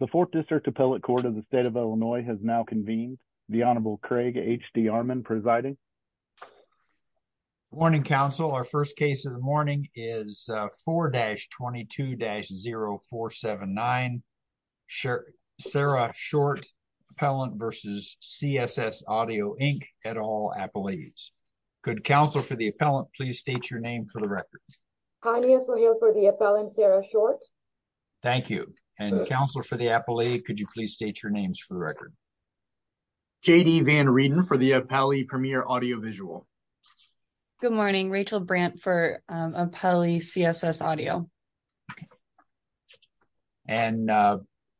The 4th District Appellate Court of the State of Illinois has now convened. The Honorable Craig H.D. Armon presiding. Good morning, counsel. Our first case of the morning is 4-22-0479 Sarah Short Appellant v. CSS Audio, Inc. at All Appellees. Could counsel for the appellant please state your name for the record. Polly S. O'Hale for the appellant, Sarah Short. Thank you. And counsel for the appellate, could you please state your names for the record. J.D. Van Reeden for the appellate, Premier Audio Visual. Good morning, Rachel Brandt for appellate, CSS Audio. And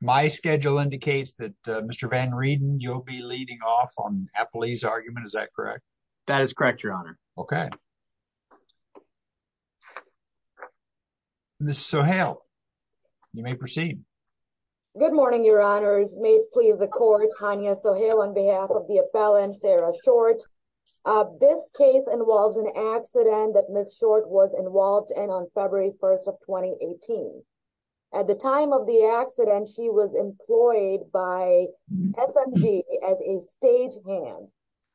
my schedule indicates that Mr. Van Reeden, you'll be leading off on appellate's argument, is that correct? That is correct, your honor. Okay. Ms. O'Hale, you may proceed. Good morning, your honors. May it please the court, Hania O'Hale on behalf of the appellant, Sarah Short. This case involves an accident that Ms. Short was involved in on February 1st of 2018. At the time of the accident, she was employed by SMG as a stagehand.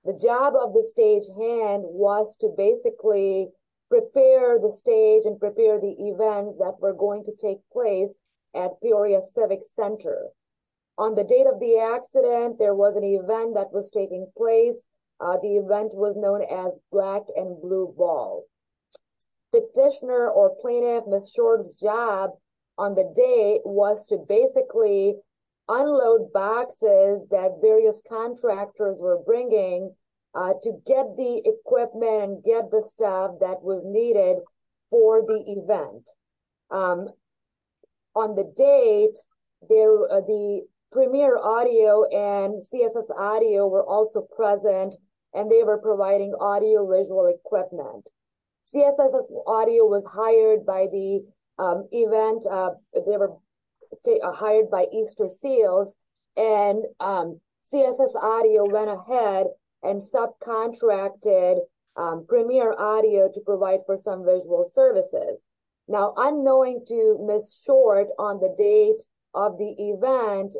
The job of the stagehand was to basically prepare the stage and prepare the events that were going to take place at Peoria Civic Center. On the date of the accident, there was an event that was taking place. The event was known as Black and Blue Ball. Petitioner or plaintiff, Ms. Short's job on the day was to basically unload boxes that various contractors were bringing to get the equipment and get the stuff that was needed for the event. On the date, the Premier Audio and CSS Audio were also present, and they were providing audio-visual equipment. CSS Audio was hired by the event. They were hired by Easter Seals, and CSS Audio went ahead and subcontracted Premier Audio to provide for some visual services. Now, unknowing to Ms. Short on the date of the event,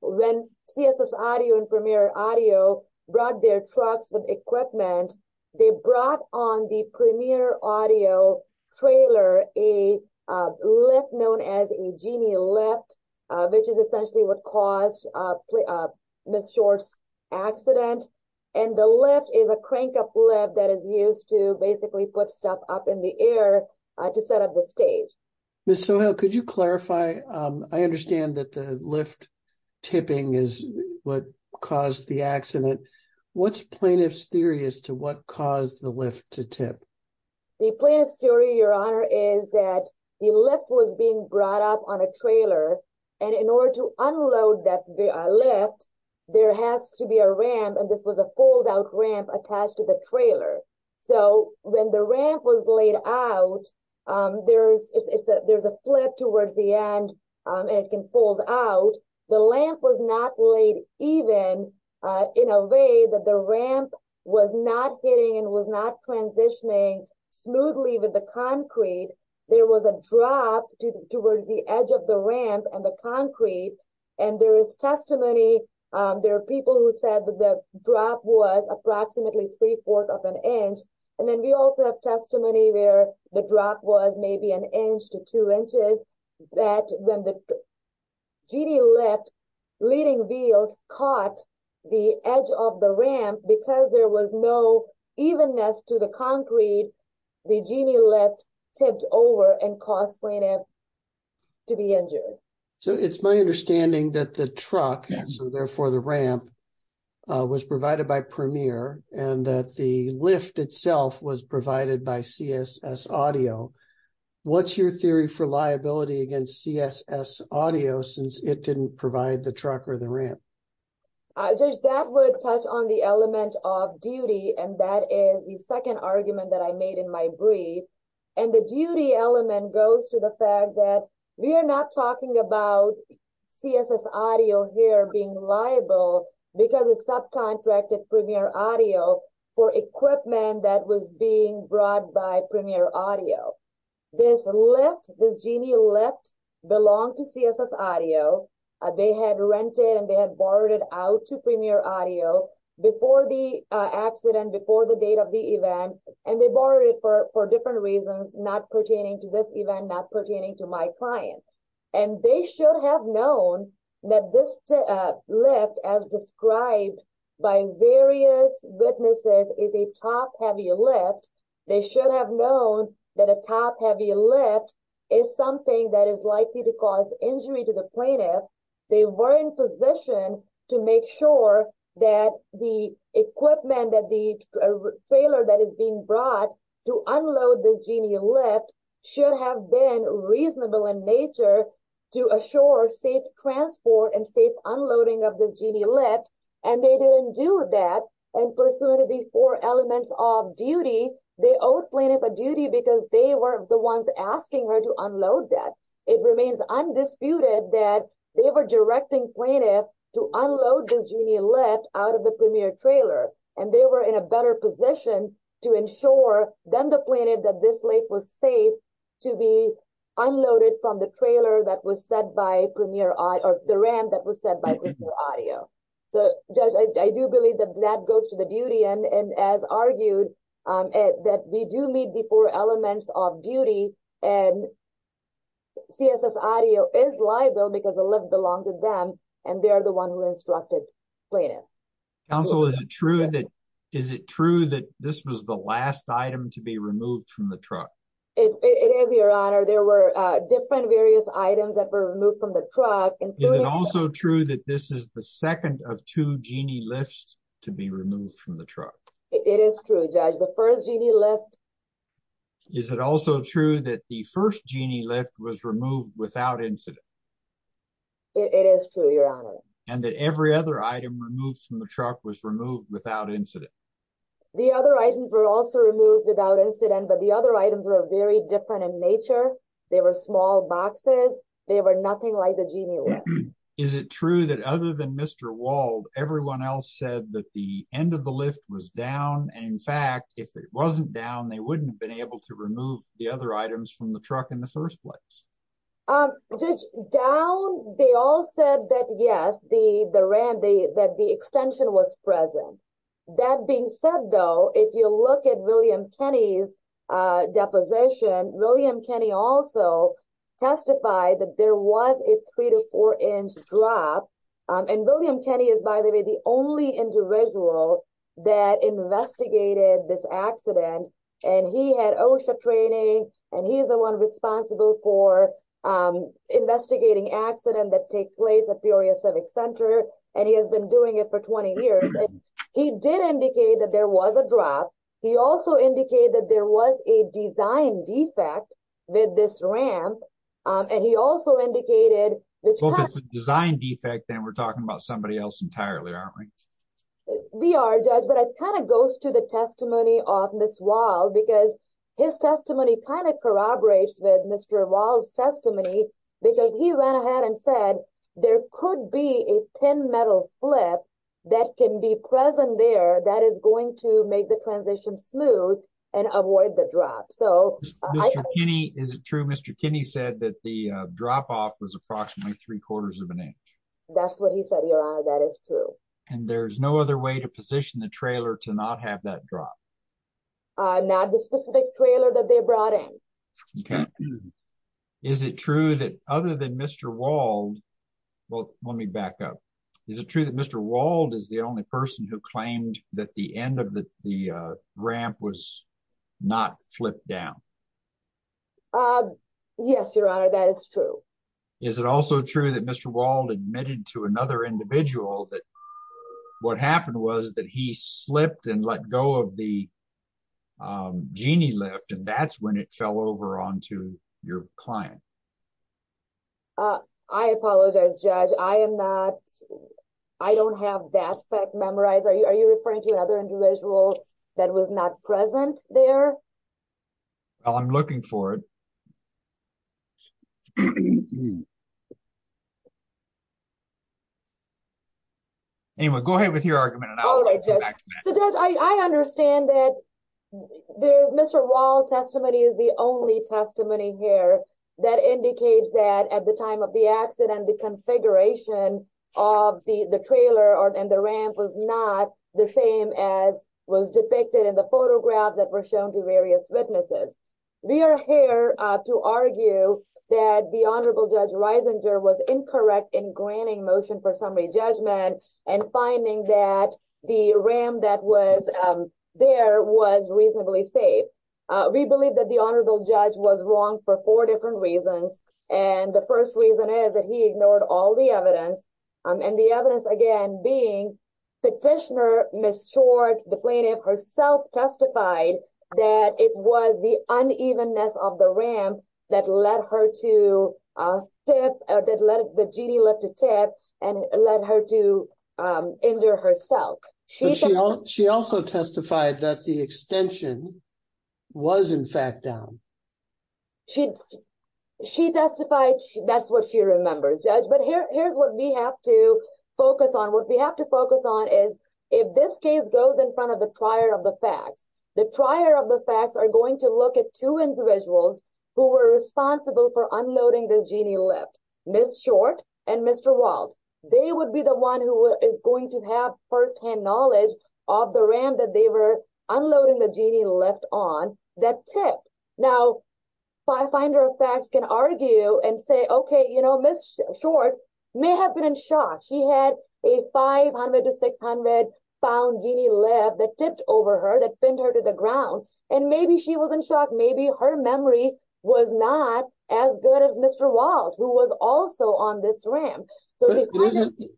when CSS Audio and Premier Audio brought their trucks with equipment, they brought on the Premier Audio trailer a lift known as a genie lift, which is essentially what caused Ms. Short's accident. The lift is a crank-up lift that is used to basically put stuff up in the air to set up the stage. Ms. Sohail, could you clarify? I understand that the lift tipping is what caused the accident. What's plaintiff's theory as to what caused the lift to tip? The plaintiff's theory, Your Honor, is that the lift was being brought up on a trailer, and in order to unload that lift, there has to be a ramp, and this was a fold-out ramp attached to the trailer. When the ramp was laid out, there's a flip towards the end, and it can fold out. The ramp was not laid even in a way that the ramp was not hitting and was not transitioning smoothly with the concrete. There was a drop towards the edge of the ramp and the concrete, and there is testimony. There are people who said that the drop was approximately three-fourths of an inch, and then we also have testimony where the drop was maybe an inch to two inches. That when the genie lift leading wheels caught the edge of the ramp, because there was no evenness to the concrete, the genie lift tipped over and caused plaintiff to be injured. So it's my understanding that the truck, therefore the ramp, was provided by Premier and that the lift itself was provided by CSS Audio. What's your theory for liability against CSS Audio since it didn't provide the truck or the ramp? That would touch on the element of duty, and that is the second argument that I made in my brief, and the duty element goes to the fact that we are not talking about CSS Audio here being liable because it subcontracted Premier Audio for equipment that was being brought by Premier Audio. This lift, this genie lift, belonged to CSS Audio. They had rented and they had borrowed it out to Premier Audio before the accident, before the date of the event, and they borrowed it for different reasons, not pertaining to this event, not pertaining to my client. And they should have known that this lift, as described by various witnesses, is a top-heavy lift. They should have known that a top-heavy lift is something that is likely to cause injury to the plaintiff. They were in position to make sure that the equipment, that the trailer that is being brought to unload this genie lift should have been reasonable in nature to assure safe transport and safe unloading of the genie lift, and they didn't do that, and pursuant to the four elements of duty, they owed plaintiff a duty because they were the ones asking her to unload that. It remains undisputed that they were directing plaintiff to unload the genie lift out of the Premier trailer, and they were in a better position to ensure than the plaintiff that this lift was safe to be unloaded from the trailer that was set by Premier Audio, or the ramp that was set by Premier Audio. So, Judge, I do believe that that goes to the duty end, and as argued, that we do meet the four elements of duty, and CSS Audio is liable because the lift belonged to them, and they are the ones who instructed plaintiff. Counsel, is it true that this was the last item to be removed from the truck? It is, Your Honor. There were different various items that were removed from the truck. Is it also true that this is the second of two genie lifts to be removed from the truck? It is true, Judge. The first genie lift... Is it also true that the first genie lift was removed without incident? It is true, Your Honor. And that every other item removed from the truck was removed without incident? The other items were also removed without incident, but the other items were very different in nature. They were small boxes. They were nothing like the genie lift. Is it true that other than Mr. Wald, everyone else said that the end of the lift was down, and in fact, if it wasn't down, they wouldn't have been able to remove the other items from the truck in the first place? Judge, down, they all said that yes, that the extension was present. That being said, though, if you look at William Kenney's deposition, William Kenney also testified that there was a three to four inch drop. And William Kenney is, by the way, the only individual that investigated this accident, and he had OSHA training, and he is the one responsible for investigating accidents that take place at Peoria Civic Center, and he has been doing it for 20 years. He did indicate that there was a drop. He also indicated that there was a design defect with this ramp, and he also indicated... Well, if it's a design defect, then we're talking about somebody else entirely, aren't we? We are, Judge, but it kind of goes to the testimony of Ms. Wald, because his testimony kind of corroborates with Mr. Wald's testimony, because he went ahead and said there could be a thin metal flip that can be present there that is going to make the transition smooth and avoid the drop, so... Mr. Kenney, is it true Mr. Kenney said that the drop-off was approximately three quarters of an inch? That's what he said, Your Honor. That is true. And there's no other way to position the trailer to not have that drop? Not the specific trailer that they brought in. Okay. Is it true that other than Mr. Wald... Well, let me back up. Is it true that Mr. Wald is the only person who claimed that the end of the ramp was not flipped down? Yes, Your Honor, that is true. Is it also true that Mr. Wald admitted to another individual that what happened was that he slipped and let go of the genie lift, and that's when it fell over onto your client? I apologize, Judge. I am not... I don't have that fact memorized. Are you referring to another individual that was not present there? Well, I'm looking for it. Anyway, go ahead with your argument, and I'll come back to that. So, Judge, I understand that Mr. Wald's testimony is the only testimony here that indicates that at the time of the accident, the configuration of the trailer and the ramp was not the same as was depicted in the photographs that were shown to various witnesses. We are here to argue that the Honorable Judge Reisinger was incorrect in granting motion for summary judgment and finding that the ramp that was there was reasonably safe. We believe that the Honorable Judge was wrong for four different reasons, and the first reason is that he ignored all the evidence, and the evidence, again, being petitioner, Ms. Short, the plaintiff herself, testified that it was the unevenness of the ramp that led her to tip... that the genie lift to tip and led her to injure herself. But she also testified that the extension was, in fact, down. She testified that's what she remembers, Judge, but here's what we have to focus on. What we have to focus on is if this case goes in front of the trier of the facts, the trier of the facts are going to look at two individuals who were responsible for unloading this genie lift, Ms. Short and Mr. Wald. They would be the one who is going to have firsthand knowledge of the ramp that they were unloading the genie lift on that tipped. Now, finder of facts can argue and say, okay, you know, Ms. Short may have been in shock. She had a 500 to 600 pound genie lift that tipped over her, that pinned her to the ground, and maybe she was in shock. Maybe her memory was not as good as Mr. Wald, who was also on this ramp.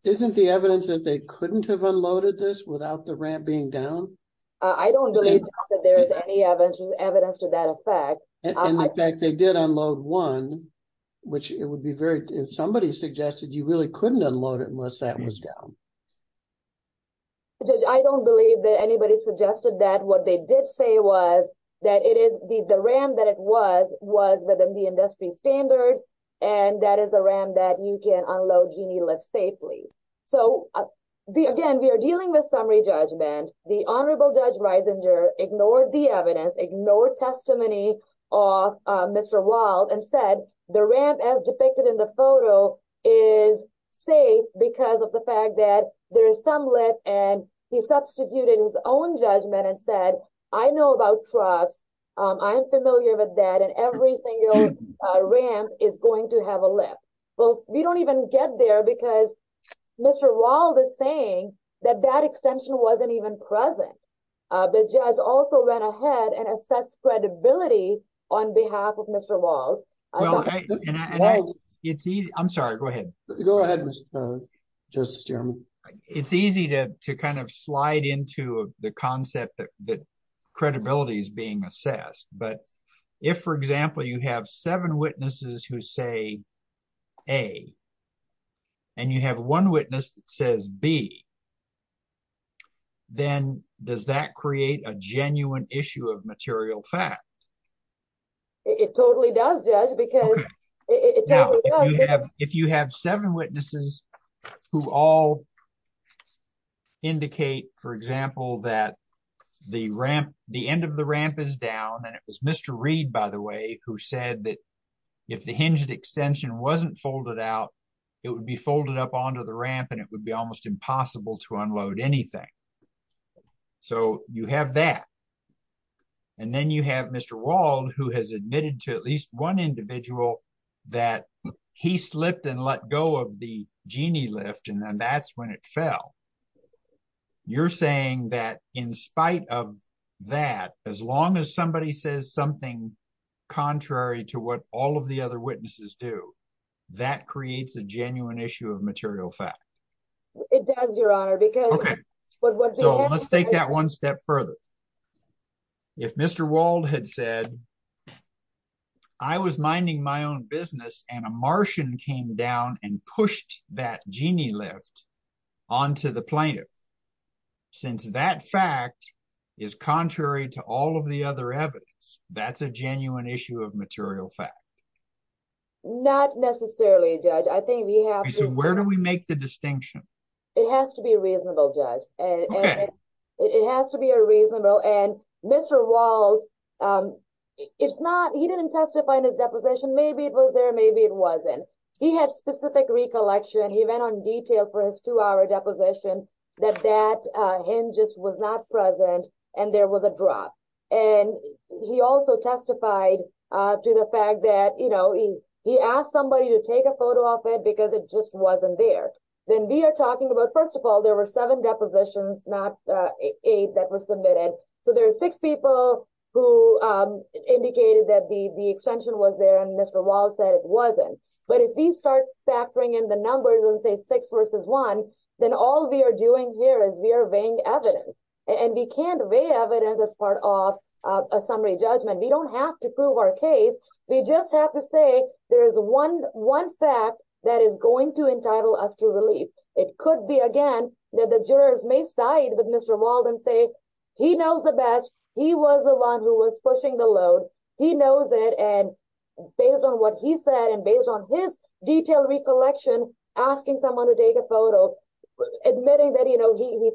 Isn't the evidence that they couldn't have unloaded this without the ramp being down? I don't believe that there is any evidence to that effect. And, in fact, they did unload one, which it would be very – if somebody suggested you really couldn't unload it unless that was down. Judge, I don't believe that anybody suggested that. What they did say was that it is – the ramp that it was was within the industry standards, and that is a ramp that you can unload genie lifts safely. So, again, we are dealing with summary judgment. The Honorable Judge Reisinger ignored the evidence, ignored testimony of Mr. Wald, and said the ramp as depicted in the photo is safe because of the fact that there is some lift. And he substituted his own judgment and said, I know about trucks. I'm familiar with that, and every single ramp is going to have a lift. Well, we don't even get there because Mr. Wald is saying that that extension wasn't even present. The judge also went ahead and assessed credibility on behalf of Mr. Wald. Well, and I – it's easy – I'm sorry, go ahead. Go ahead, Mr. Justice Chairman. It's easy to kind of slide into the concept that credibility is being assessed. But if, for example, you have seven witnesses who say A, and you have one witness that says B, then does that create a genuine issue of material fact? It totally does, Judge, because it totally does. If you have seven witnesses who all indicate, for example, that the ramp – the end of the ramp is down, and it was Mr. Reed, by the way, who said that if the hinged extension wasn't folded out, it would be folded up onto the ramp and it would be almost impossible to unload anything. So you have that. And then you have Mr. Wald, who has admitted to at least one individual that he slipped and let go of the genie lift, and then that's when it fell. You're saying that in spite of that, as long as somebody says something contrary to what all of the other witnesses do, that creates a genuine issue of material fact? It does, Your Honor, because – Okay. So let's take that one step further. If Mr. Wald had said, I was minding my own business, and a Martian came down and pushed that genie lift onto the plaintiff, since that fact is contrary to all of the other evidence, that's a genuine issue of material fact. Not necessarily, Judge. I think we have to – It has to be reasonable, Judge. Okay. It has to be reasonable. And Mr. Wald, it's not – he didn't testify in his deposition. Maybe it was there, maybe it wasn't. He had specific recollection. He went on detail for his two-hour deposition that that hinge just was not present and there was a drop. And he also testified to the fact that he asked somebody to take a photo of it because it just wasn't there. Then we are talking about – first of all, there were seven depositions, not eight, that were submitted. So there are six people who indicated that the extension was there and Mr. Wald said it wasn't. But if we start factoring in the numbers and say six versus one, then all we are doing here is we are weighing evidence. And we can't weigh evidence as part of a summary judgment. We don't have to prove our case. We just have to say there is one fact that is going to entitle us to relief. It could be, again, that the jurors may side with Mr. Wald and say he knows the best. He was the one who was pushing the load. He knows it. And based on what he said and based on his detailed recollection, asking someone to take a photo, admitting that he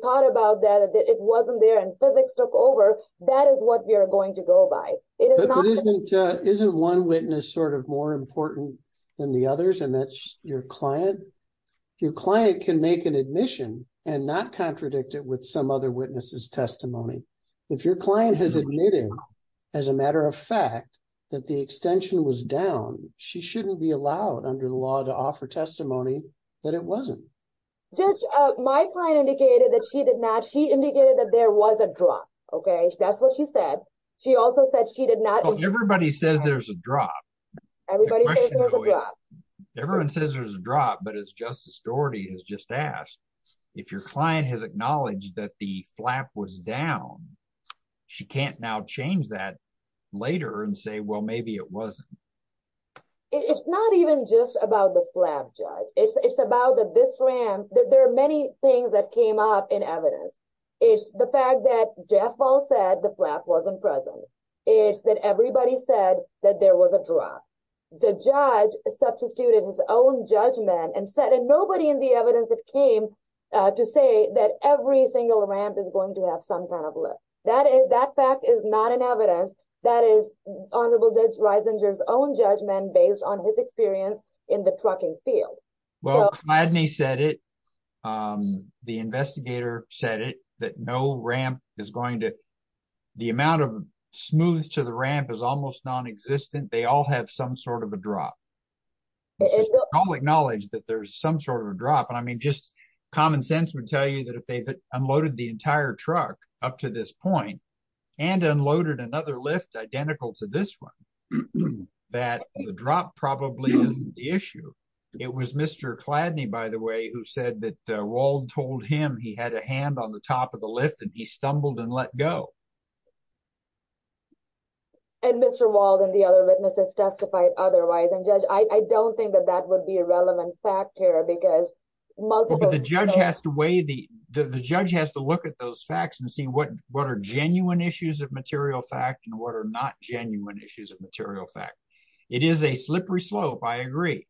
thought about that, that it wasn't there and physics took over, that is what we are going to go by. Isn't one witness sort of more important than the others and that's your client? Your client can make an admission and not contradict it with some other witness's testimony. If your client has admitted as a matter of fact that the extension was down, she shouldn't be allowed under the law to offer testimony that it wasn't. Judge, my client indicated that she did not. She indicated that there was a drop. Okay. That's what she said. She also said she did not. Everybody says there's a drop. Everybody says there's a drop. But as Justice Doherty has just asked, if your client has acknowledged that the flap was down, she can't now change that later and say, well, maybe it wasn't. It's not even just about the flap, Judge. It's about this ramp. There are many things that came up in evidence. It's the fact that Jeff Wald said the flap wasn't present. It's that everybody said that there was a drop. The judge substituted his own judgment and said nobody in the evidence that came to say that every single ramp is going to have some kind of lift. That fact is not in evidence. That is Honorable Judge Reisinger's own judgment based on his experience in the trucking field. Well, Cladney said it. The investigator said it, that no ramp is going to ‑‑ the amount of smooth to the ramp is almost nonexistent. They all have some sort of a drop. I'll acknowledge that there's some sort of a drop. I mean, just common sense would tell you that if they unloaded the entire truck up to this point and unloaded another lift identical to this one, that the drop probably isn't the issue. It was Mr. Cladney, by the way, who said that Wald told him he had a hand on the top of the lift and he stumbled and let go. And Mr. Wald and the other witnesses testified otherwise. And, Judge, I don't think that that would be a relevant fact here because multiple ‑‑ But the judge has to weigh the ‑‑ the judge has to look at those facts and see what are genuine issues of material fact and what are not genuine issues of material fact. It is a slippery slope, I agree,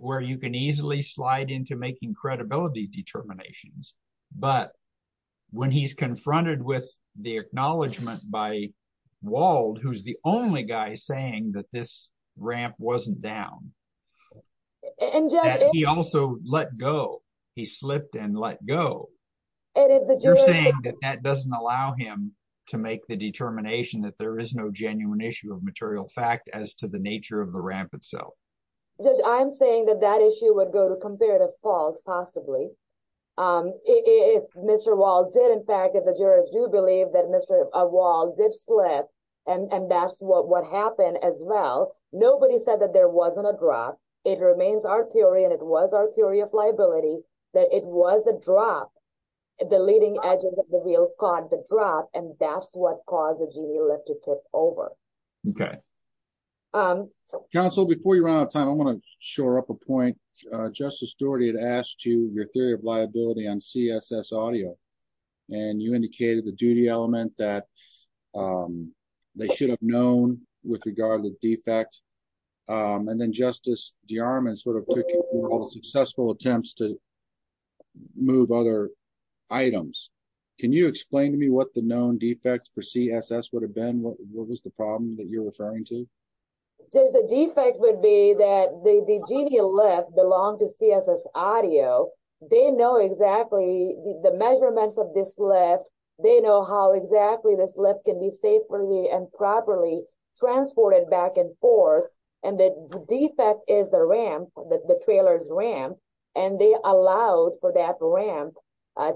where you can easily slide into making credibility determinations. But when he's confronted with the acknowledgment by Wald, who's the only guy saying that this ramp wasn't down, that he also let go, he slipped and let go, you're saying that that doesn't allow him to make the determination that there is no genuine issue of material fact as to the nature of the ramp itself. Judge, I'm saying that that issue would go to comparative fault, possibly. If Mr. Wald did, in fact, if the jurors do believe that Mr. Wald did slip and that's what happened as well, nobody said that there wasn't a drop. It remains our theory and it was our theory of liability that it was a drop. The leading edges of the wheel caught the drop and that's what caused the genie lift to tip over. Okay. Counsel, before you run out of time, I want to shore up a point. Justice Doherty had asked you your theory of liability on CSS audio, and you indicated the duty element that they should have known with regard to the defect. And then Justice DeArmond sort of took successful attempts to move other items. Can you explain to me what the known defect for CSS would have been, what was the problem that you're referring to? The defect would be that the genie lift belonged to CSS audio. They know exactly the measurements of this lift. They know how exactly this lift can be safely and properly transported back and forth. And the defect is the ramp, the trailer's ramp, and they allowed for that ramp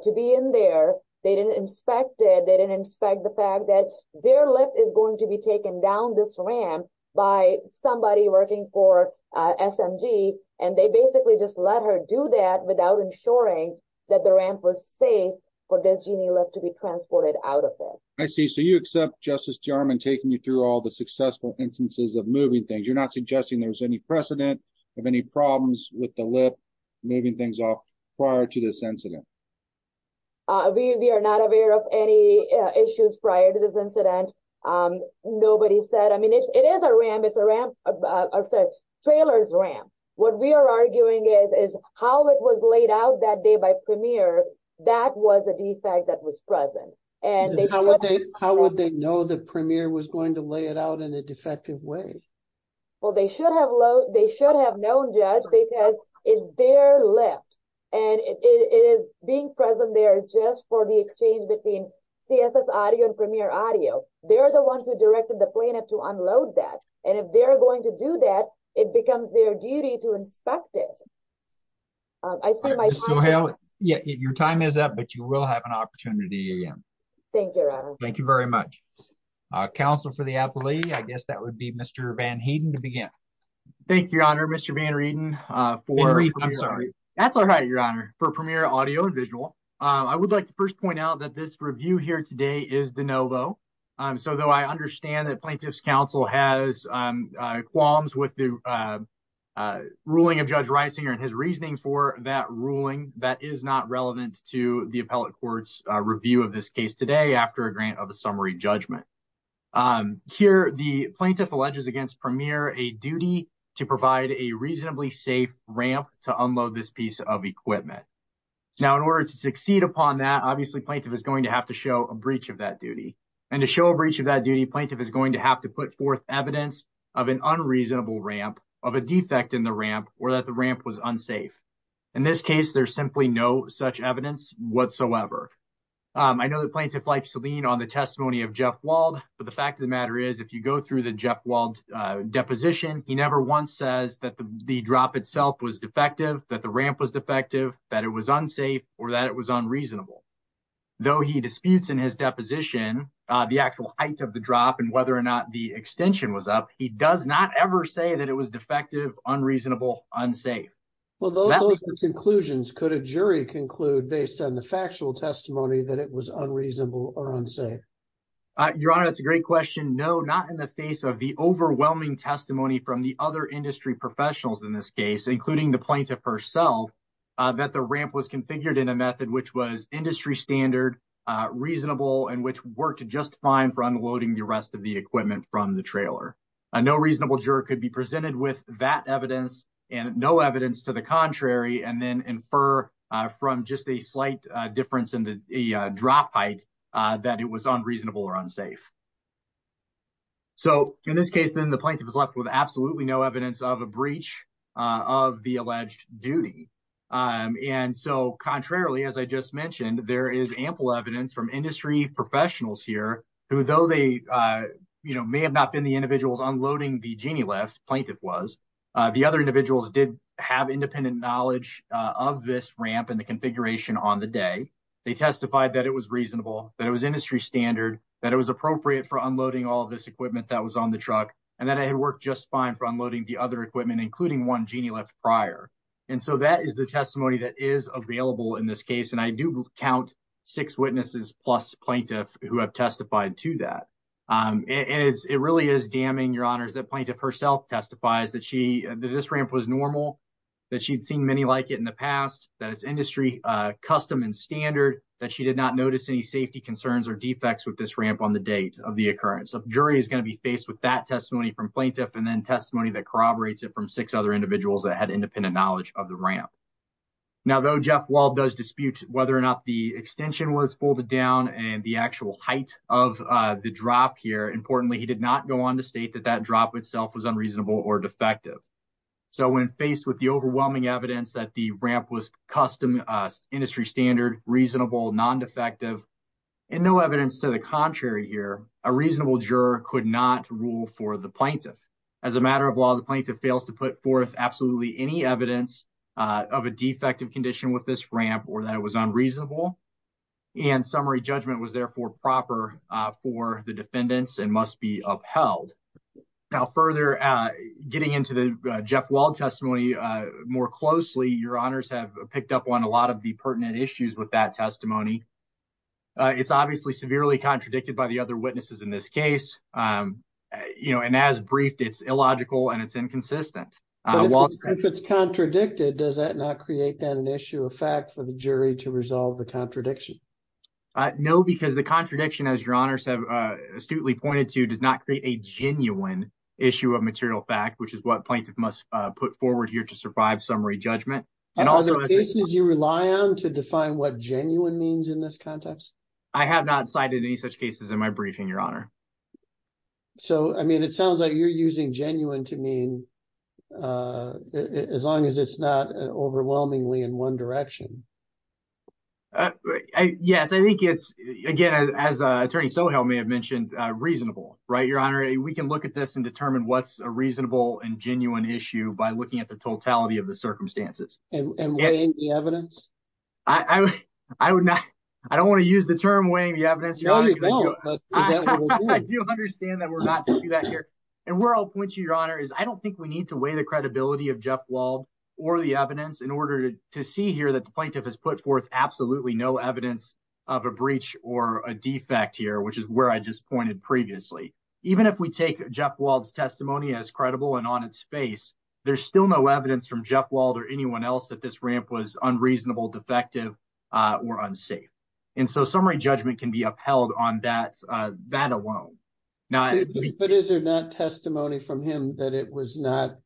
to be in there. They didn't inspect it. They didn't inspect the fact that their lift is going to be taken down this ramp by somebody working for SMG. And they basically just let her do that without ensuring that the ramp was safe for the genie lift to be transported out of there. I see. So you accept Justice DeArmond taking you through all the successful instances of moving things. You're not suggesting there was any precedent of any problems with the lift moving things off prior to this incident. We are not aware of any issues prior to this incident. Nobody said, I mean, it is a ramp, it's a ramp, sorry, trailer's ramp. What we are arguing is how it was laid out that day by Premier, that was a defect that was present. How would they know that Premier was going to lay it out in a defective way? Well, they should have known, Judge, because it's their lift. And it is being present there just for the exchange between CSS Audio and Premier Audio. They're the ones who directed the plaintiff to unload that. And if they're going to do that, it becomes their duty to inspect it. I see my time is up. Your time is up, but you will have an opportunity again. Thank you, Your Honor. Thank you very much. Counsel for the appellee. Thank you, Your Honor. Thank you, Mr. Van Rieten. Van Rieten, I'm sorry. That's all right, Your Honor, for Premier Audio and Visual. I would like to first point out that this review here today is de novo. So though I understand that Plaintiff's Counsel has qualms with the ruling of Judge Reisinger and his reasoning for that ruling, that is not relevant to the appellate court's review of this case today after a grant of a summary judgment. Here, the plaintiff alleges against Premier a duty to provide a reasonably safe ramp to unload this piece of equipment. Now, in order to succeed upon that, obviously, plaintiff is going to have to show a breach of that duty. And to show a breach of that duty, plaintiff is going to have to put forth evidence of an unreasonable ramp, of a defect in the ramp, or that the ramp was unsafe. In this case, there's simply no such evidence whatsoever. I know that Plaintiff likes to lean on the testimony of Jeff Wald, but the fact of the matter is, if you go through the Jeff Wald deposition, he never once says that the drop itself was defective, that the ramp was defective, that it was unsafe, or that it was unreasonable. Though he disputes in his deposition the actual height of the drop and whether or not the extension was up, he does not ever say that it was defective, unreasonable, unsafe. Well, those are the conclusions. Could a jury conclude, based on the factual testimony, that it was unreasonable or unsafe? Your Honor, that's a great question. No, not in the face of the overwhelming testimony from the other industry professionals in this case, including the plaintiff herself, that the ramp was configured in a method which was industry standard, reasonable, and which worked just fine for unloading the rest of the equipment from the trailer. No reasonable juror could be presented with that evidence and no evidence to the contrary, and then infer from just a slight difference in the drop height that it was unreasonable or unsafe. So in this case, then, the plaintiff is left with absolutely no evidence of a breach of the alleged duty. And so, contrarily, as I just mentioned, there is ample evidence from industry professionals here, who, though they may have not been the individuals unloading the genie lift, plaintiff was, the other individuals did have independent knowledge of this ramp and the configuration on the day. They testified that it was reasonable, that it was industry standard, that it was appropriate for unloading all of this equipment that was on the truck, and that it had worked just fine for unloading the other equipment, including one genie lift prior. And so that is the testimony that is available in this case. And I do count six witnesses plus plaintiff who have testified to that. And it really is damning, Your Honors, that plaintiff herself testifies that this ramp was normal, that she'd seen many like it in the past, that it's industry custom and standard, that she did not notice any safety concerns or defects with this ramp on the date of the occurrence. A jury is going to be faced with that testimony from plaintiff and then testimony that corroborates it from six other individuals that had independent knowledge of the ramp. Now, though Jeff Wald does dispute whether or not the extension was folded down and the actual height of the drop here, importantly, he did not go on to state that that drop itself was unreasonable or defective. So when faced with the overwhelming evidence that the ramp was custom, industry standard, reasonable, non-defective, and no evidence to the contrary here, a reasonable juror could not rule for the plaintiff. As a matter of law, the plaintiff fails to put forth absolutely any evidence of a defective condition with this ramp or that it was unreasonable. And summary judgment was therefore proper for the defendants and must be upheld. Now, further getting into the Jeff Wald testimony more closely, Your Honors have picked up on a lot of the pertinent issues with that testimony. It's obviously severely contradicted by the other witnesses in this case. And as briefed, it's illogical and it's inconsistent. If it's contradicted, does that not create an issue of fact for the jury to resolve the contradiction? No, because the contradiction, as Your Honors have astutely pointed to, does not create a genuine issue of material fact, which is what plaintiff must put forward here to survive summary judgment. Are there cases you rely on to define what genuine means in this context? I have not cited any such cases in my briefing, Your Honor. So, I mean, it sounds like you're using genuine to mean as long as it's not overwhelmingly in one direction. Yes, I think it's, again, as Attorney Sohel may have mentioned, reasonable, right, Your Honor? We can look at this and determine what's a reasonable and genuine issue by looking at the totality of the circumstances. And weighing the evidence? I don't want to use the term weighing the evidence, Your Honor. I do understand that we're not going to do that here. And where I'll point you, Your Honor, is I don't think we need to weigh the credibility of Jeff Wald or the evidence in order to see here that the plaintiff has put forth absolutely no evidence of a breach or a defect here, which is where I just pointed previously. Even if we take Jeff Wald's testimony as credible and on its face, there's still no evidence from Jeff Wald or anyone else that this ramp was unreasonable, defective, or unsafe. And so summary judgment can be upheld on that alone. But is there not testimony from him that it was not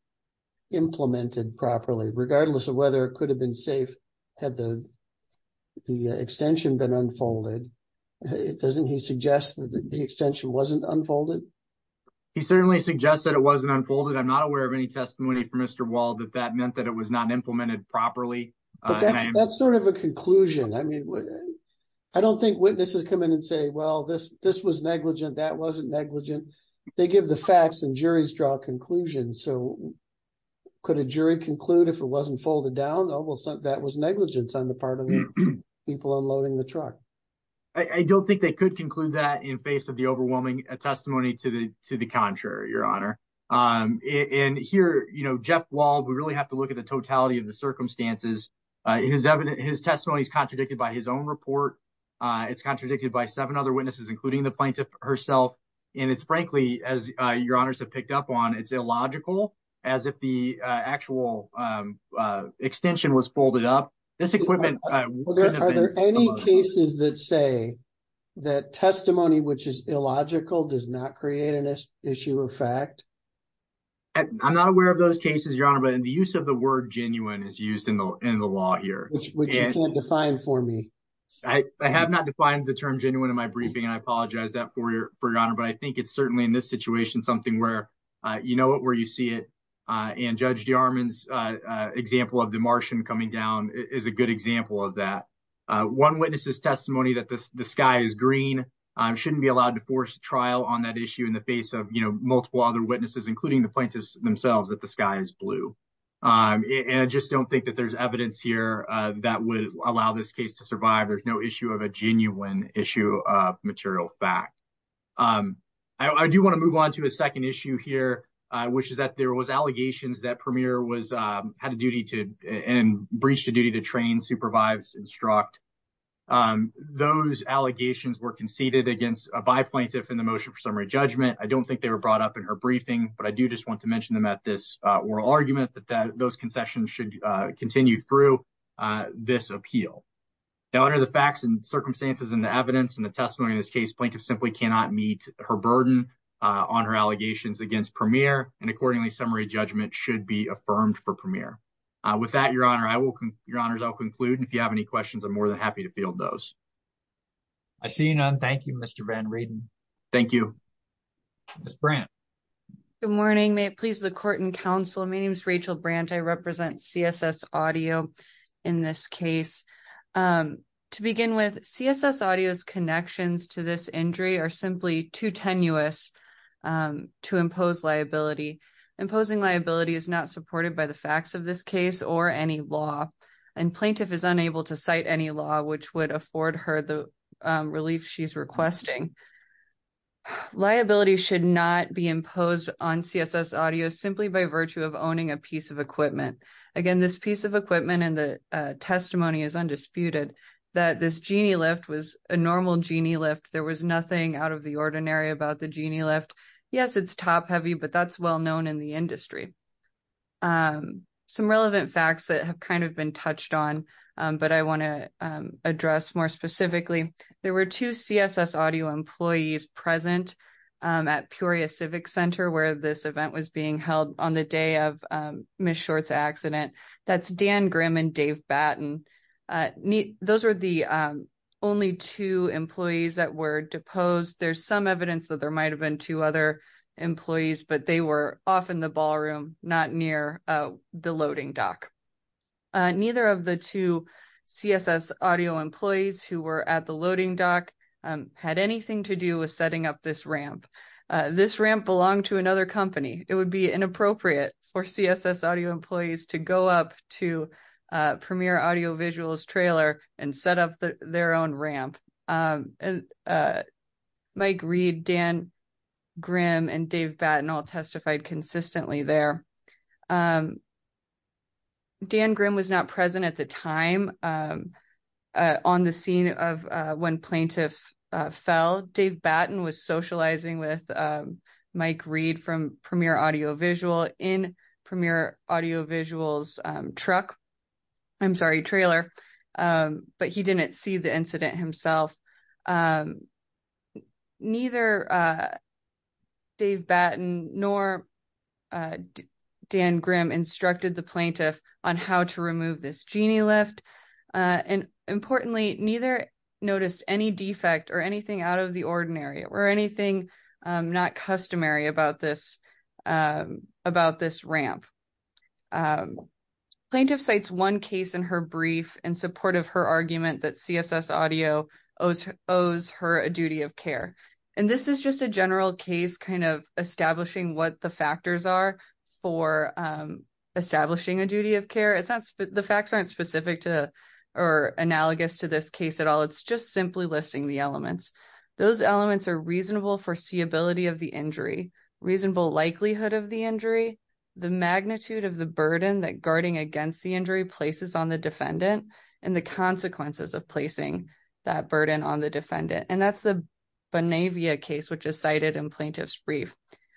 implemented properly? Regardless of whether it could have been safe had the extension been unfolded, doesn't he suggest that the extension wasn't unfolded? He certainly suggests that it wasn't unfolded. But I'm not aware of any testimony from Mr. Wald that that meant that it was not implemented properly. But that's sort of a conclusion. I mean, I don't think witnesses come in and say, well, this was negligent, that wasn't negligent. They give the facts and juries draw conclusions. So could a jury conclude if it wasn't folded down? Oh, well, that was negligence on the part of the people unloading the truck. I don't think they could conclude that in face of the overwhelming testimony to the to the contrary, Your Honor. And here, you know, Jeff Wald, we really have to look at the totality of the circumstances. His evidence, his testimony is contradicted by his own report. It's contradicted by seven other witnesses, including the plaintiff herself. And it's frankly, as your honors have picked up on, it's illogical as if the actual extension was folded up. This equipment, are there any cases that say that testimony which is illogical does not create an issue of fact? I'm not aware of those cases, Your Honor, but in the use of the word genuine is used in the law here, which you can't define for me. I have not defined the term genuine in my briefing. I apologize that for your honor. But I think it's certainly in this situation something where, you know, where you see it. And Judge Jarman's example of the Martian coming down is a good example of that. One witness's testimony that the sky is green shouldn't be allowed to force a trial on that issue in the face of, you know, multiple other witnesses, including the plaintiffs themselves, that the sky is blue. And I just don't think that there's evidence here that would allow this case to survive. There's no issue of a genuine issue of material fact. I do want to move on to a second issue here, which is that there was allegations that Premier was had a duty to and breached a duty to train, supervise, instruct. Those allegations were conceded against a by plaintiff in the motion for summary judgment. I don't think they were brought up in her briefing, but I do just want to mention them at this oral argument that those concessions should continue through this appeal. Now, under the facts and circumstances and the evidence and the testimony in this case, plaintiff simply cannot meet her burden on her allegations against Premier. And accordingly, summary judgment should be affirmed for Premier. With that, your honor, I will. Your honors, I'll conclude. If you have any questions, I'm more than happy to field those. I see none. Thank you, Mr. Van Raden. Thank you. Ms. Brandt. Good morning. May it please the court and counsel. My name is Rachel Brandt. I represent CSS Audio in this case. To begin with, CSS Audio's connections to this injury are simply too tenuous to impose liability. Imposing liability is not supported by the facts of this case or any law, and plaintiff is unable to cite any law which would afford her the relief she's requesting. Liability should not be imposed on CSS Audio simply by virtue of owning a piece of equipment. Again, this piece of equipment and the testimony is undisputed that this genie lift was a normal genie lift. There was nothing out of the ordinary about the genie lift. Yes, it's top-heavy, but that's well known in the industry. Some relevant facts that have kind of been touched on, but I want to address more specifically. There were two CSS Audio employees present at Peoria Civic Center where this event was being held on the day of Ms. Short's accident. That's Dan Grimm and Dave Batten. Those were the only two employees that were deposed. There's some evidence that there might have been two other employees, but they were off in the ballroom, not near the loading dock. Neither of the two CSS Audio employees who were at the loading dock had anything to do with setting up this ramp. This ramp belonged to another company. It would be inappropriate for CSS Audio employees to go up to Premier Audio Visual's trailer and set up their own ramp. Mike Reed, Dan Grimm, and Dave Batten all testified consistently there. Dan Grimm was not present at the time on the scene of when plaintiff fell. Dave Batten was socializing with Mike Reed from Premier Audio Visual in Premier Audio Visual's truck. I'm sorry, trailer. But he didn't see the incident himself. Neither Dave Batten nor Dan Grimm instructed the plaintiff on how to remove this genie lift. Importantly, neither noticed any defect or anything out of the ordinary or anything not customary about this ramp. Plaintiff cites one case in her brief in support of her argument that CSS Audio owes her a duty of care. This is just a general case establishing what the factors are for establishing a duty of care. The facts aren't specific or analogous to this case at all. It's just simply listing the elements. Those elements are reasonable foreseeability of the injury, reasonable likelihood of the injury, the magnitude of the burden that guarding against the injury places on the defendant, and the consequences of placing that burden on the defendant. And that's the Bonavia case, which is cited in plaintiff's brief.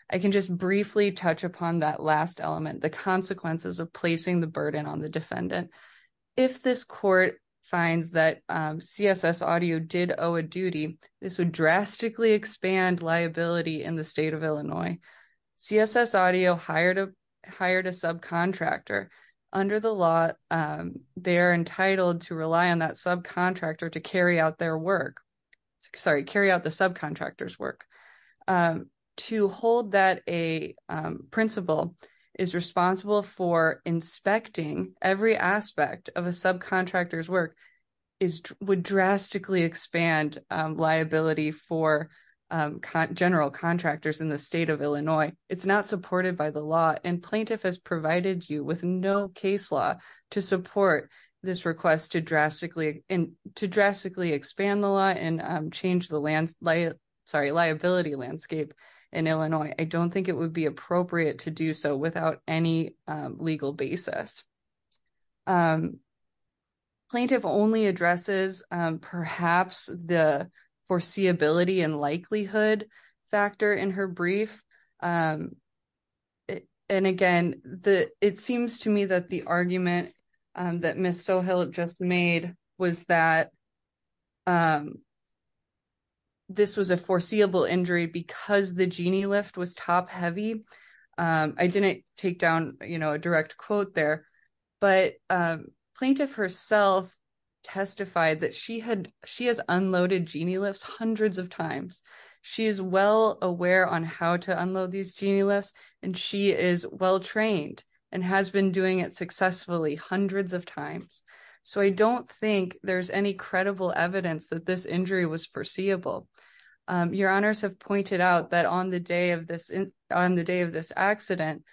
I can just briefly touch upon that last element, the consequences of placing the burden on the defendant. If this court finds that CSS Audio did owe a duty, this would drastically expand liability in the state of Illinois. CSS Audio hired a subcontractor. Under the law, they are entitled to rely on that subcontractor to carry out their work. Sorry, carry out the subcontractor's work. To hold that a principal is responsible for inspecting every aspect of a subcontractor's work would drastically expand liability for general contractors in the state of Illinois. It's not supported by the law, and plaintiff has provided you with no case law to support this request to drastically expand the law and change the liability landscape in Illinois. I don't think it would be appropriate to do so without any legal basis. Plaintiff only addresses perhaps the foreseeability and likelihood factor in her brief. And again, it seems to me that the argument that Ms. Sohill just made was that this was a foreseeable injury because the genie lift was top heavy. I didn't take down a direct quote there, but plaintiff herself testified that she has unloaded genie lifts hundreds of times. She is well aware on how to unload these genie lifts, and she is well trained and has been doing it successfully hundreds of times. So I don't think there's any credible evidence that this injury was foreseeable. Your honors have pointed out that on the day of this accident,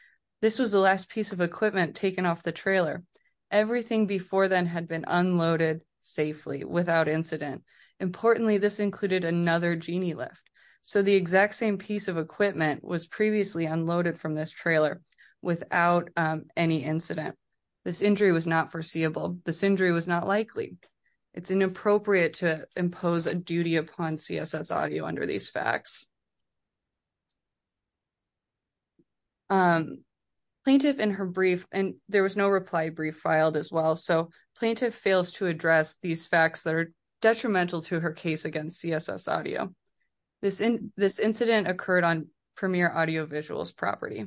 this was the last piece of equipment taken off the trailer. Everything before then had been unloaded safely without incident. Importantly, this included another genie lift. So the exact same piece of equipment was previously unloaded from this trailer without any incident. This injury was not foreseeable. This injury was not likely. It's inappropriate to impose a duty upon CSS Audio under these facts. Plaintiff in her brief, and there was no reply brief filed as well. So plaintiff fails to address these facts that are detrimental to her case against CSS Audio. This incident occurred on Premier Audio Visual's property.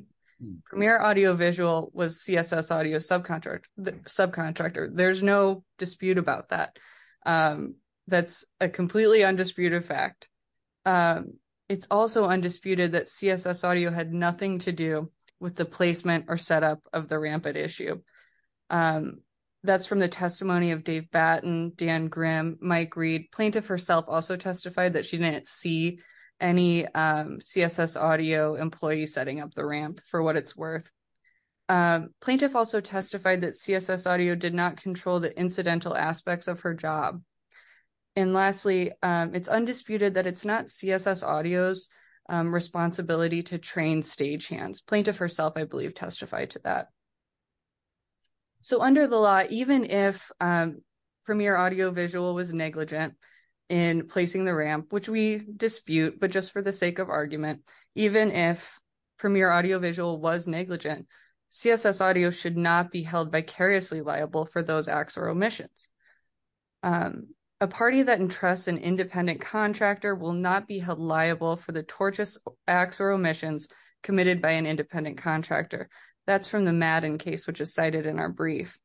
Premier Audio Visual was CSS Audio's subcontractor. There's no dispute about that. That's a completely undisputed fact. It's also undisputed that CSS Audio had nothing to do with the placement or setup of the rampant issue. That's from the testimony of Dave Batten, Dan Grimm, Mike Reed. Plaintiff herself also testified that she didn't see any CSS Audio employee setting up the ramp for what it's worth. Plaintiff also testified that CSS Audio did not control the incidental aspects of her job. And lastly, it's undisputed that it's not CSS Audio's responsibility to train stagehands. Plaintiff herself, I believe, testified to that. So under the law, even if Premier Audio Visual was negligent in placing the ramp, which we dispute, but just for the sake of argument, even if Premier Audio Visual was negligent, CSS Audio should not be held vicariously liable for those acts or omissions. A party that entrusts an independent contractor will not be held liable for the tortious acts or omissions committed by an independent contractor. That's from the Madden case, which is cited in our brief.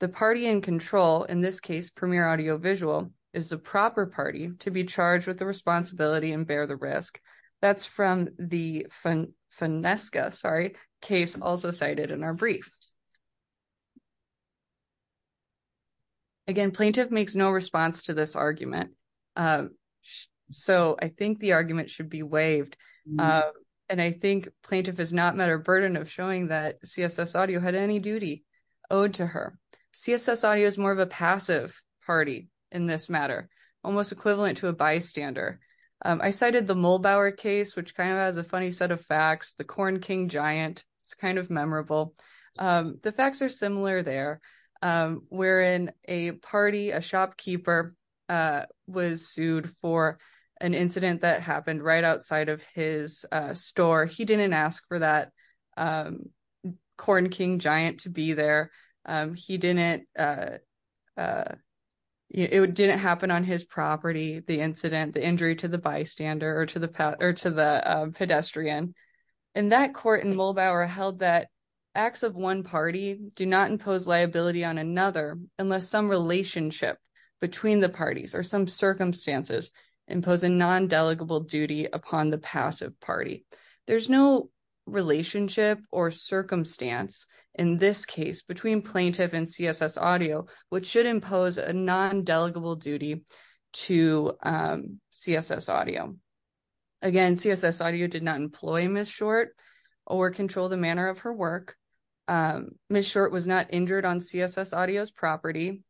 The party in control, in this case Premier Audio Visual, is the proper party to be charged with the responsibility and bear the risk. That's from the Finesca case also cited in our brief. Again, plaintiff makes no response to this argument. So I think the argument should be waived. And I think plaintiff is not met her burden of showing that CSS Audio had any duty owed to her. CSS Audio is more of a passive party in this matter, almost equivalent to a bystander. I cited the Mollbauer case, which kind of has a funny set of facts, the corn king giant. It's kind of memorable. The facts are similar there. We're in a party, a shopkeeper was sued for an incident that happened right outside of his store. He didn't ask for that corn king giant to be there. He didn't. It didn't happen on his property. The incident, the injury to the bystander or to the or to the pedestrian. And that court in Mollbauer held that acts of one party do not impose liability on another unless some relationship between the parties or some circumstances impose a non-delegable duty upon the passive party. There's no relationship or circumstance in this case between plaintiff and CSS Audio, which should impose a non-delegable duty to CSS Audio. Again, CSS Audio did not employ Ms. Short or control the manner of her work. Ms. Short was not injured on CSS Audio's property.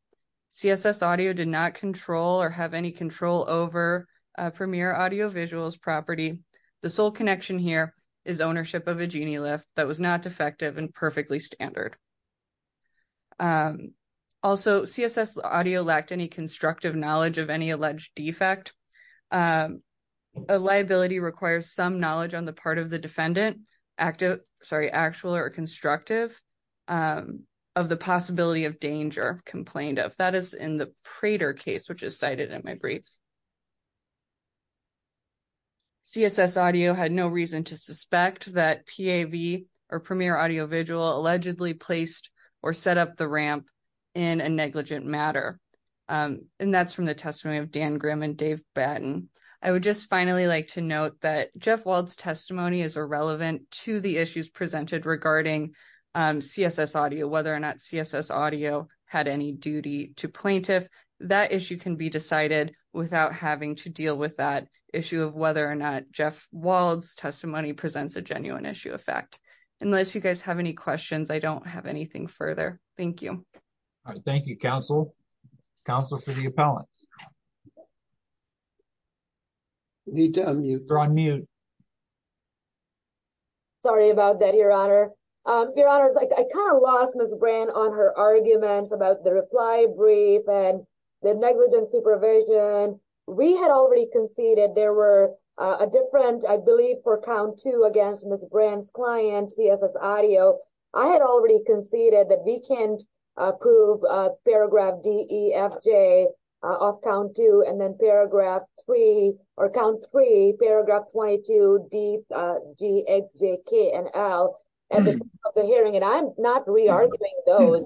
CSS Audio did not control or have any control over Premier Audio Visual's property. The sole connection here is ownership of a genie lift that was not defective and perfectly standard. Also, CSS Audio lacked any constructive knowledge of any alleged defect. A liability requires some knowledge on the part of the defendant active, sorry, actual or constructive of the possibility of danger complained of. That is in the Prater case, which is cited in my brief. CSS Audio had no reason to suspect that PAV or Premier Audio Visual allegedly placed or set up the ramp in a negligent matter. And that's from the testimony of Dan Grimm and Dave Batten. I would just finally like to note that Jeff Wald's testimony is irrelevant to the issues presented regarding CSS Audio, whether or not CSS Audio had any duty to plaintiff. That issue can be decided without having to deal with that issue of whether or not Jeff Wald's testimony presents a genuine issue of fact. Unless you guys have any questions, I don't have anything further. Thank you. Thank you, Counsel. Counsel for the appellant. They're on mute. Sorry about that, Your Honor. Your Honor, I kind of lost Ms. Brand on her arguments about the reply brief and the negligent supervision. We had already conceded there were a different, I believe, for count two against Ms. Brand's client, CSS Audio. I had already conceded that we can't approve paragraph D, E, F, J off count two and then paragraph three or count three, paragraph 22, D, G, H, J, K, and L at the hearing. And I'm not re-arguing those.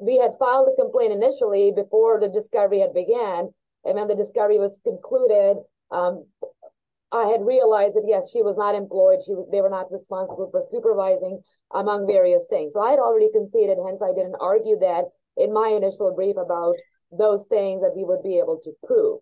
We had filed a complaint initially before the discovery had began. And then the discovery was concluded. I had realized that, yes, she was not employed. They were not responsible for supervising among various things. So I had already conceded. Hence, I didn't argue that in my initial brief about those things that we would be able to prove.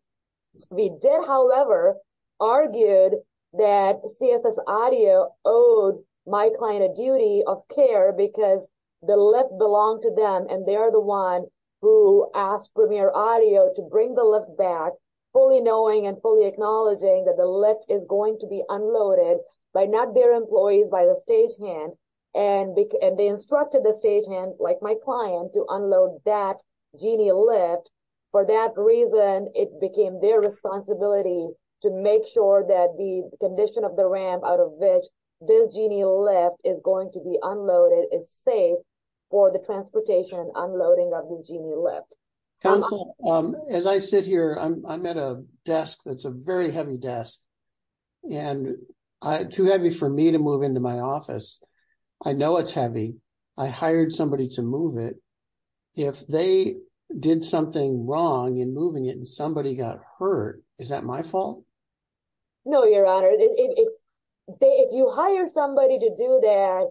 We did, however, argue that CSS Audio owed my client a duty of care because the lift belonged to them. And they are the one who asked Premier Audio to bring the lift back, fully knowing and fully acknowledging that the lift is going to be unloaded by not their employees, by the stagehand. And they instructed the stagehand, like my client, to unload that genie lift. For that reason, it became their responsibility to make sure that the condition of the ramp out of which this genie lift is going to be unloaded is safe for the transportation and unloading of the genie lift. Council, as I sit here, I'm at a desk that's a very heavy desk. And too heavy for me to move into my office. I know it's heavy. I hired somebody to move it. If they did something wrong in moving it and somebody got hurt, is that my fault? No, Your Honor. If you hire somebody to do that,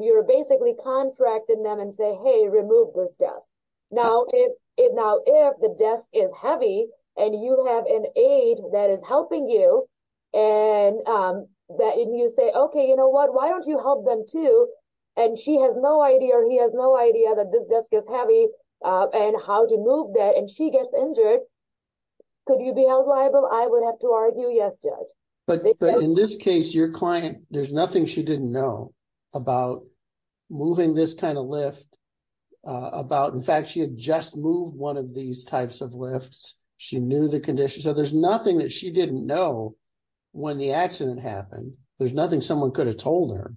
you're basically contracting them and say, hey, remove this desk. Now, if the desk is heavy and you have an aide that is helping you and you say, okay, you know what, why don't you help them too? And she has no idea or he has no idea that this desk is heavy and how to move that and she gets injured, could you be held liable? I would have to argue yes, Judge. But in this case, your client, there's nothing she didn't know about moving this kind of lift. In fact, she had just moved one of these types of lifts. She knew the condition. So there's nothing that she didn't know when the accident happened. There's nothing someone could have told her.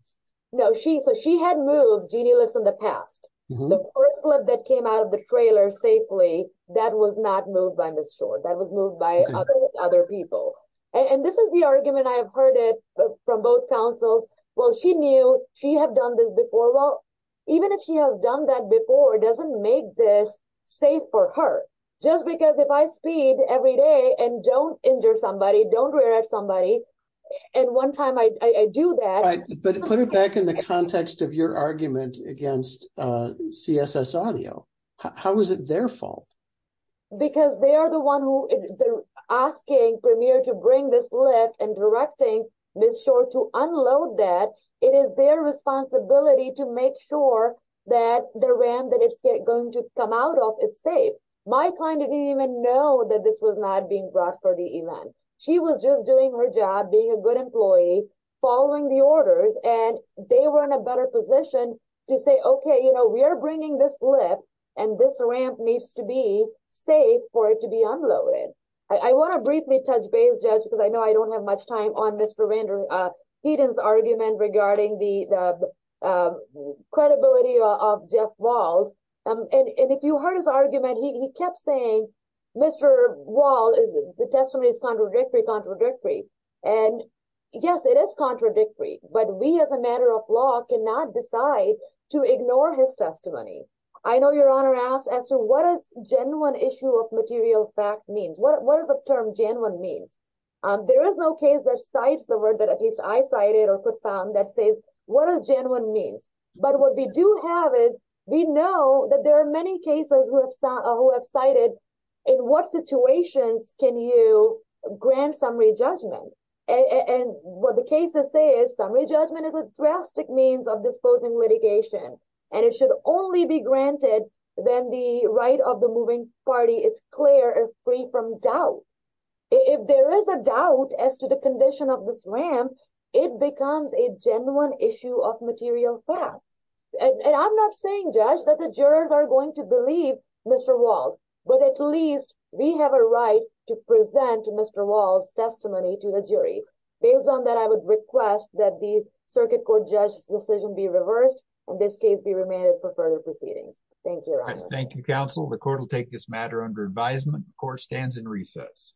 No, so she had moved genie lifts in the past. The first lift that came out of the trailer safely, that was not moved by Ms. Short. That was moved by other people. And this is the argument I have heard it from both counsels. Well, she knew she had done this before. Well, even if she had done that before, it doesn't make this safe for her. Just because if I speed every day and don't injure somebody, don't rear at somebody, and one time I do that. But put it back in the context of your argument against CSS Audio. How is it their fault? Because they are the one who is asking Premier to bring this lift and directing Ms. Short to unload that. It is their responsibility to make sure that the ramp that it's going to come out of is safe. My client didn't even know that this was not being brought for the event. She was just doing her job, being a good employee, following the orders, and they were in a better position to say, okay, you know, we are bringing this lift, and this ramp needs to be safe for it to be unloaded. I want to briefly touch base, Judge, because I know I don't have much time on Mr. Hayden's argument regarding the credibility of Jeff Wald. And if you heard his argument, he kept saying, Mr. Wald, the testimony is contradictory, contradictory. And, yes, it is contradictory, but we as a matter of law cannot decide to ignore his testimony. I know Your Honor asked as to what a genuine issue of material fact means. What is the term genuine means? There is no case that cites the word that at least I cited or could found that says what a genuine means. But what we do have is we know that there are many cases who have cited in what situations can you grant summary judgment. And what the cases say is summary judgment is a drastic means of disposing litigation, and it should only be granted when the right of the moving party is clear and free from doubt. If there is a doubt as to the condition of this ramp, it becomes a genuine issue of material fact. And I'm not saying, Judge, that the jurors are going to believe Mr. Wald, but at least we have a right to present Mr. Wald's testimony to the jury. Based on that, I would request that the circuit court judge's decision be reversed. In this case, we remain it for further proceedings. Thank you, Your Honor. Thank you, Counsel. The court will take this matter under advisement. Court stands in recess.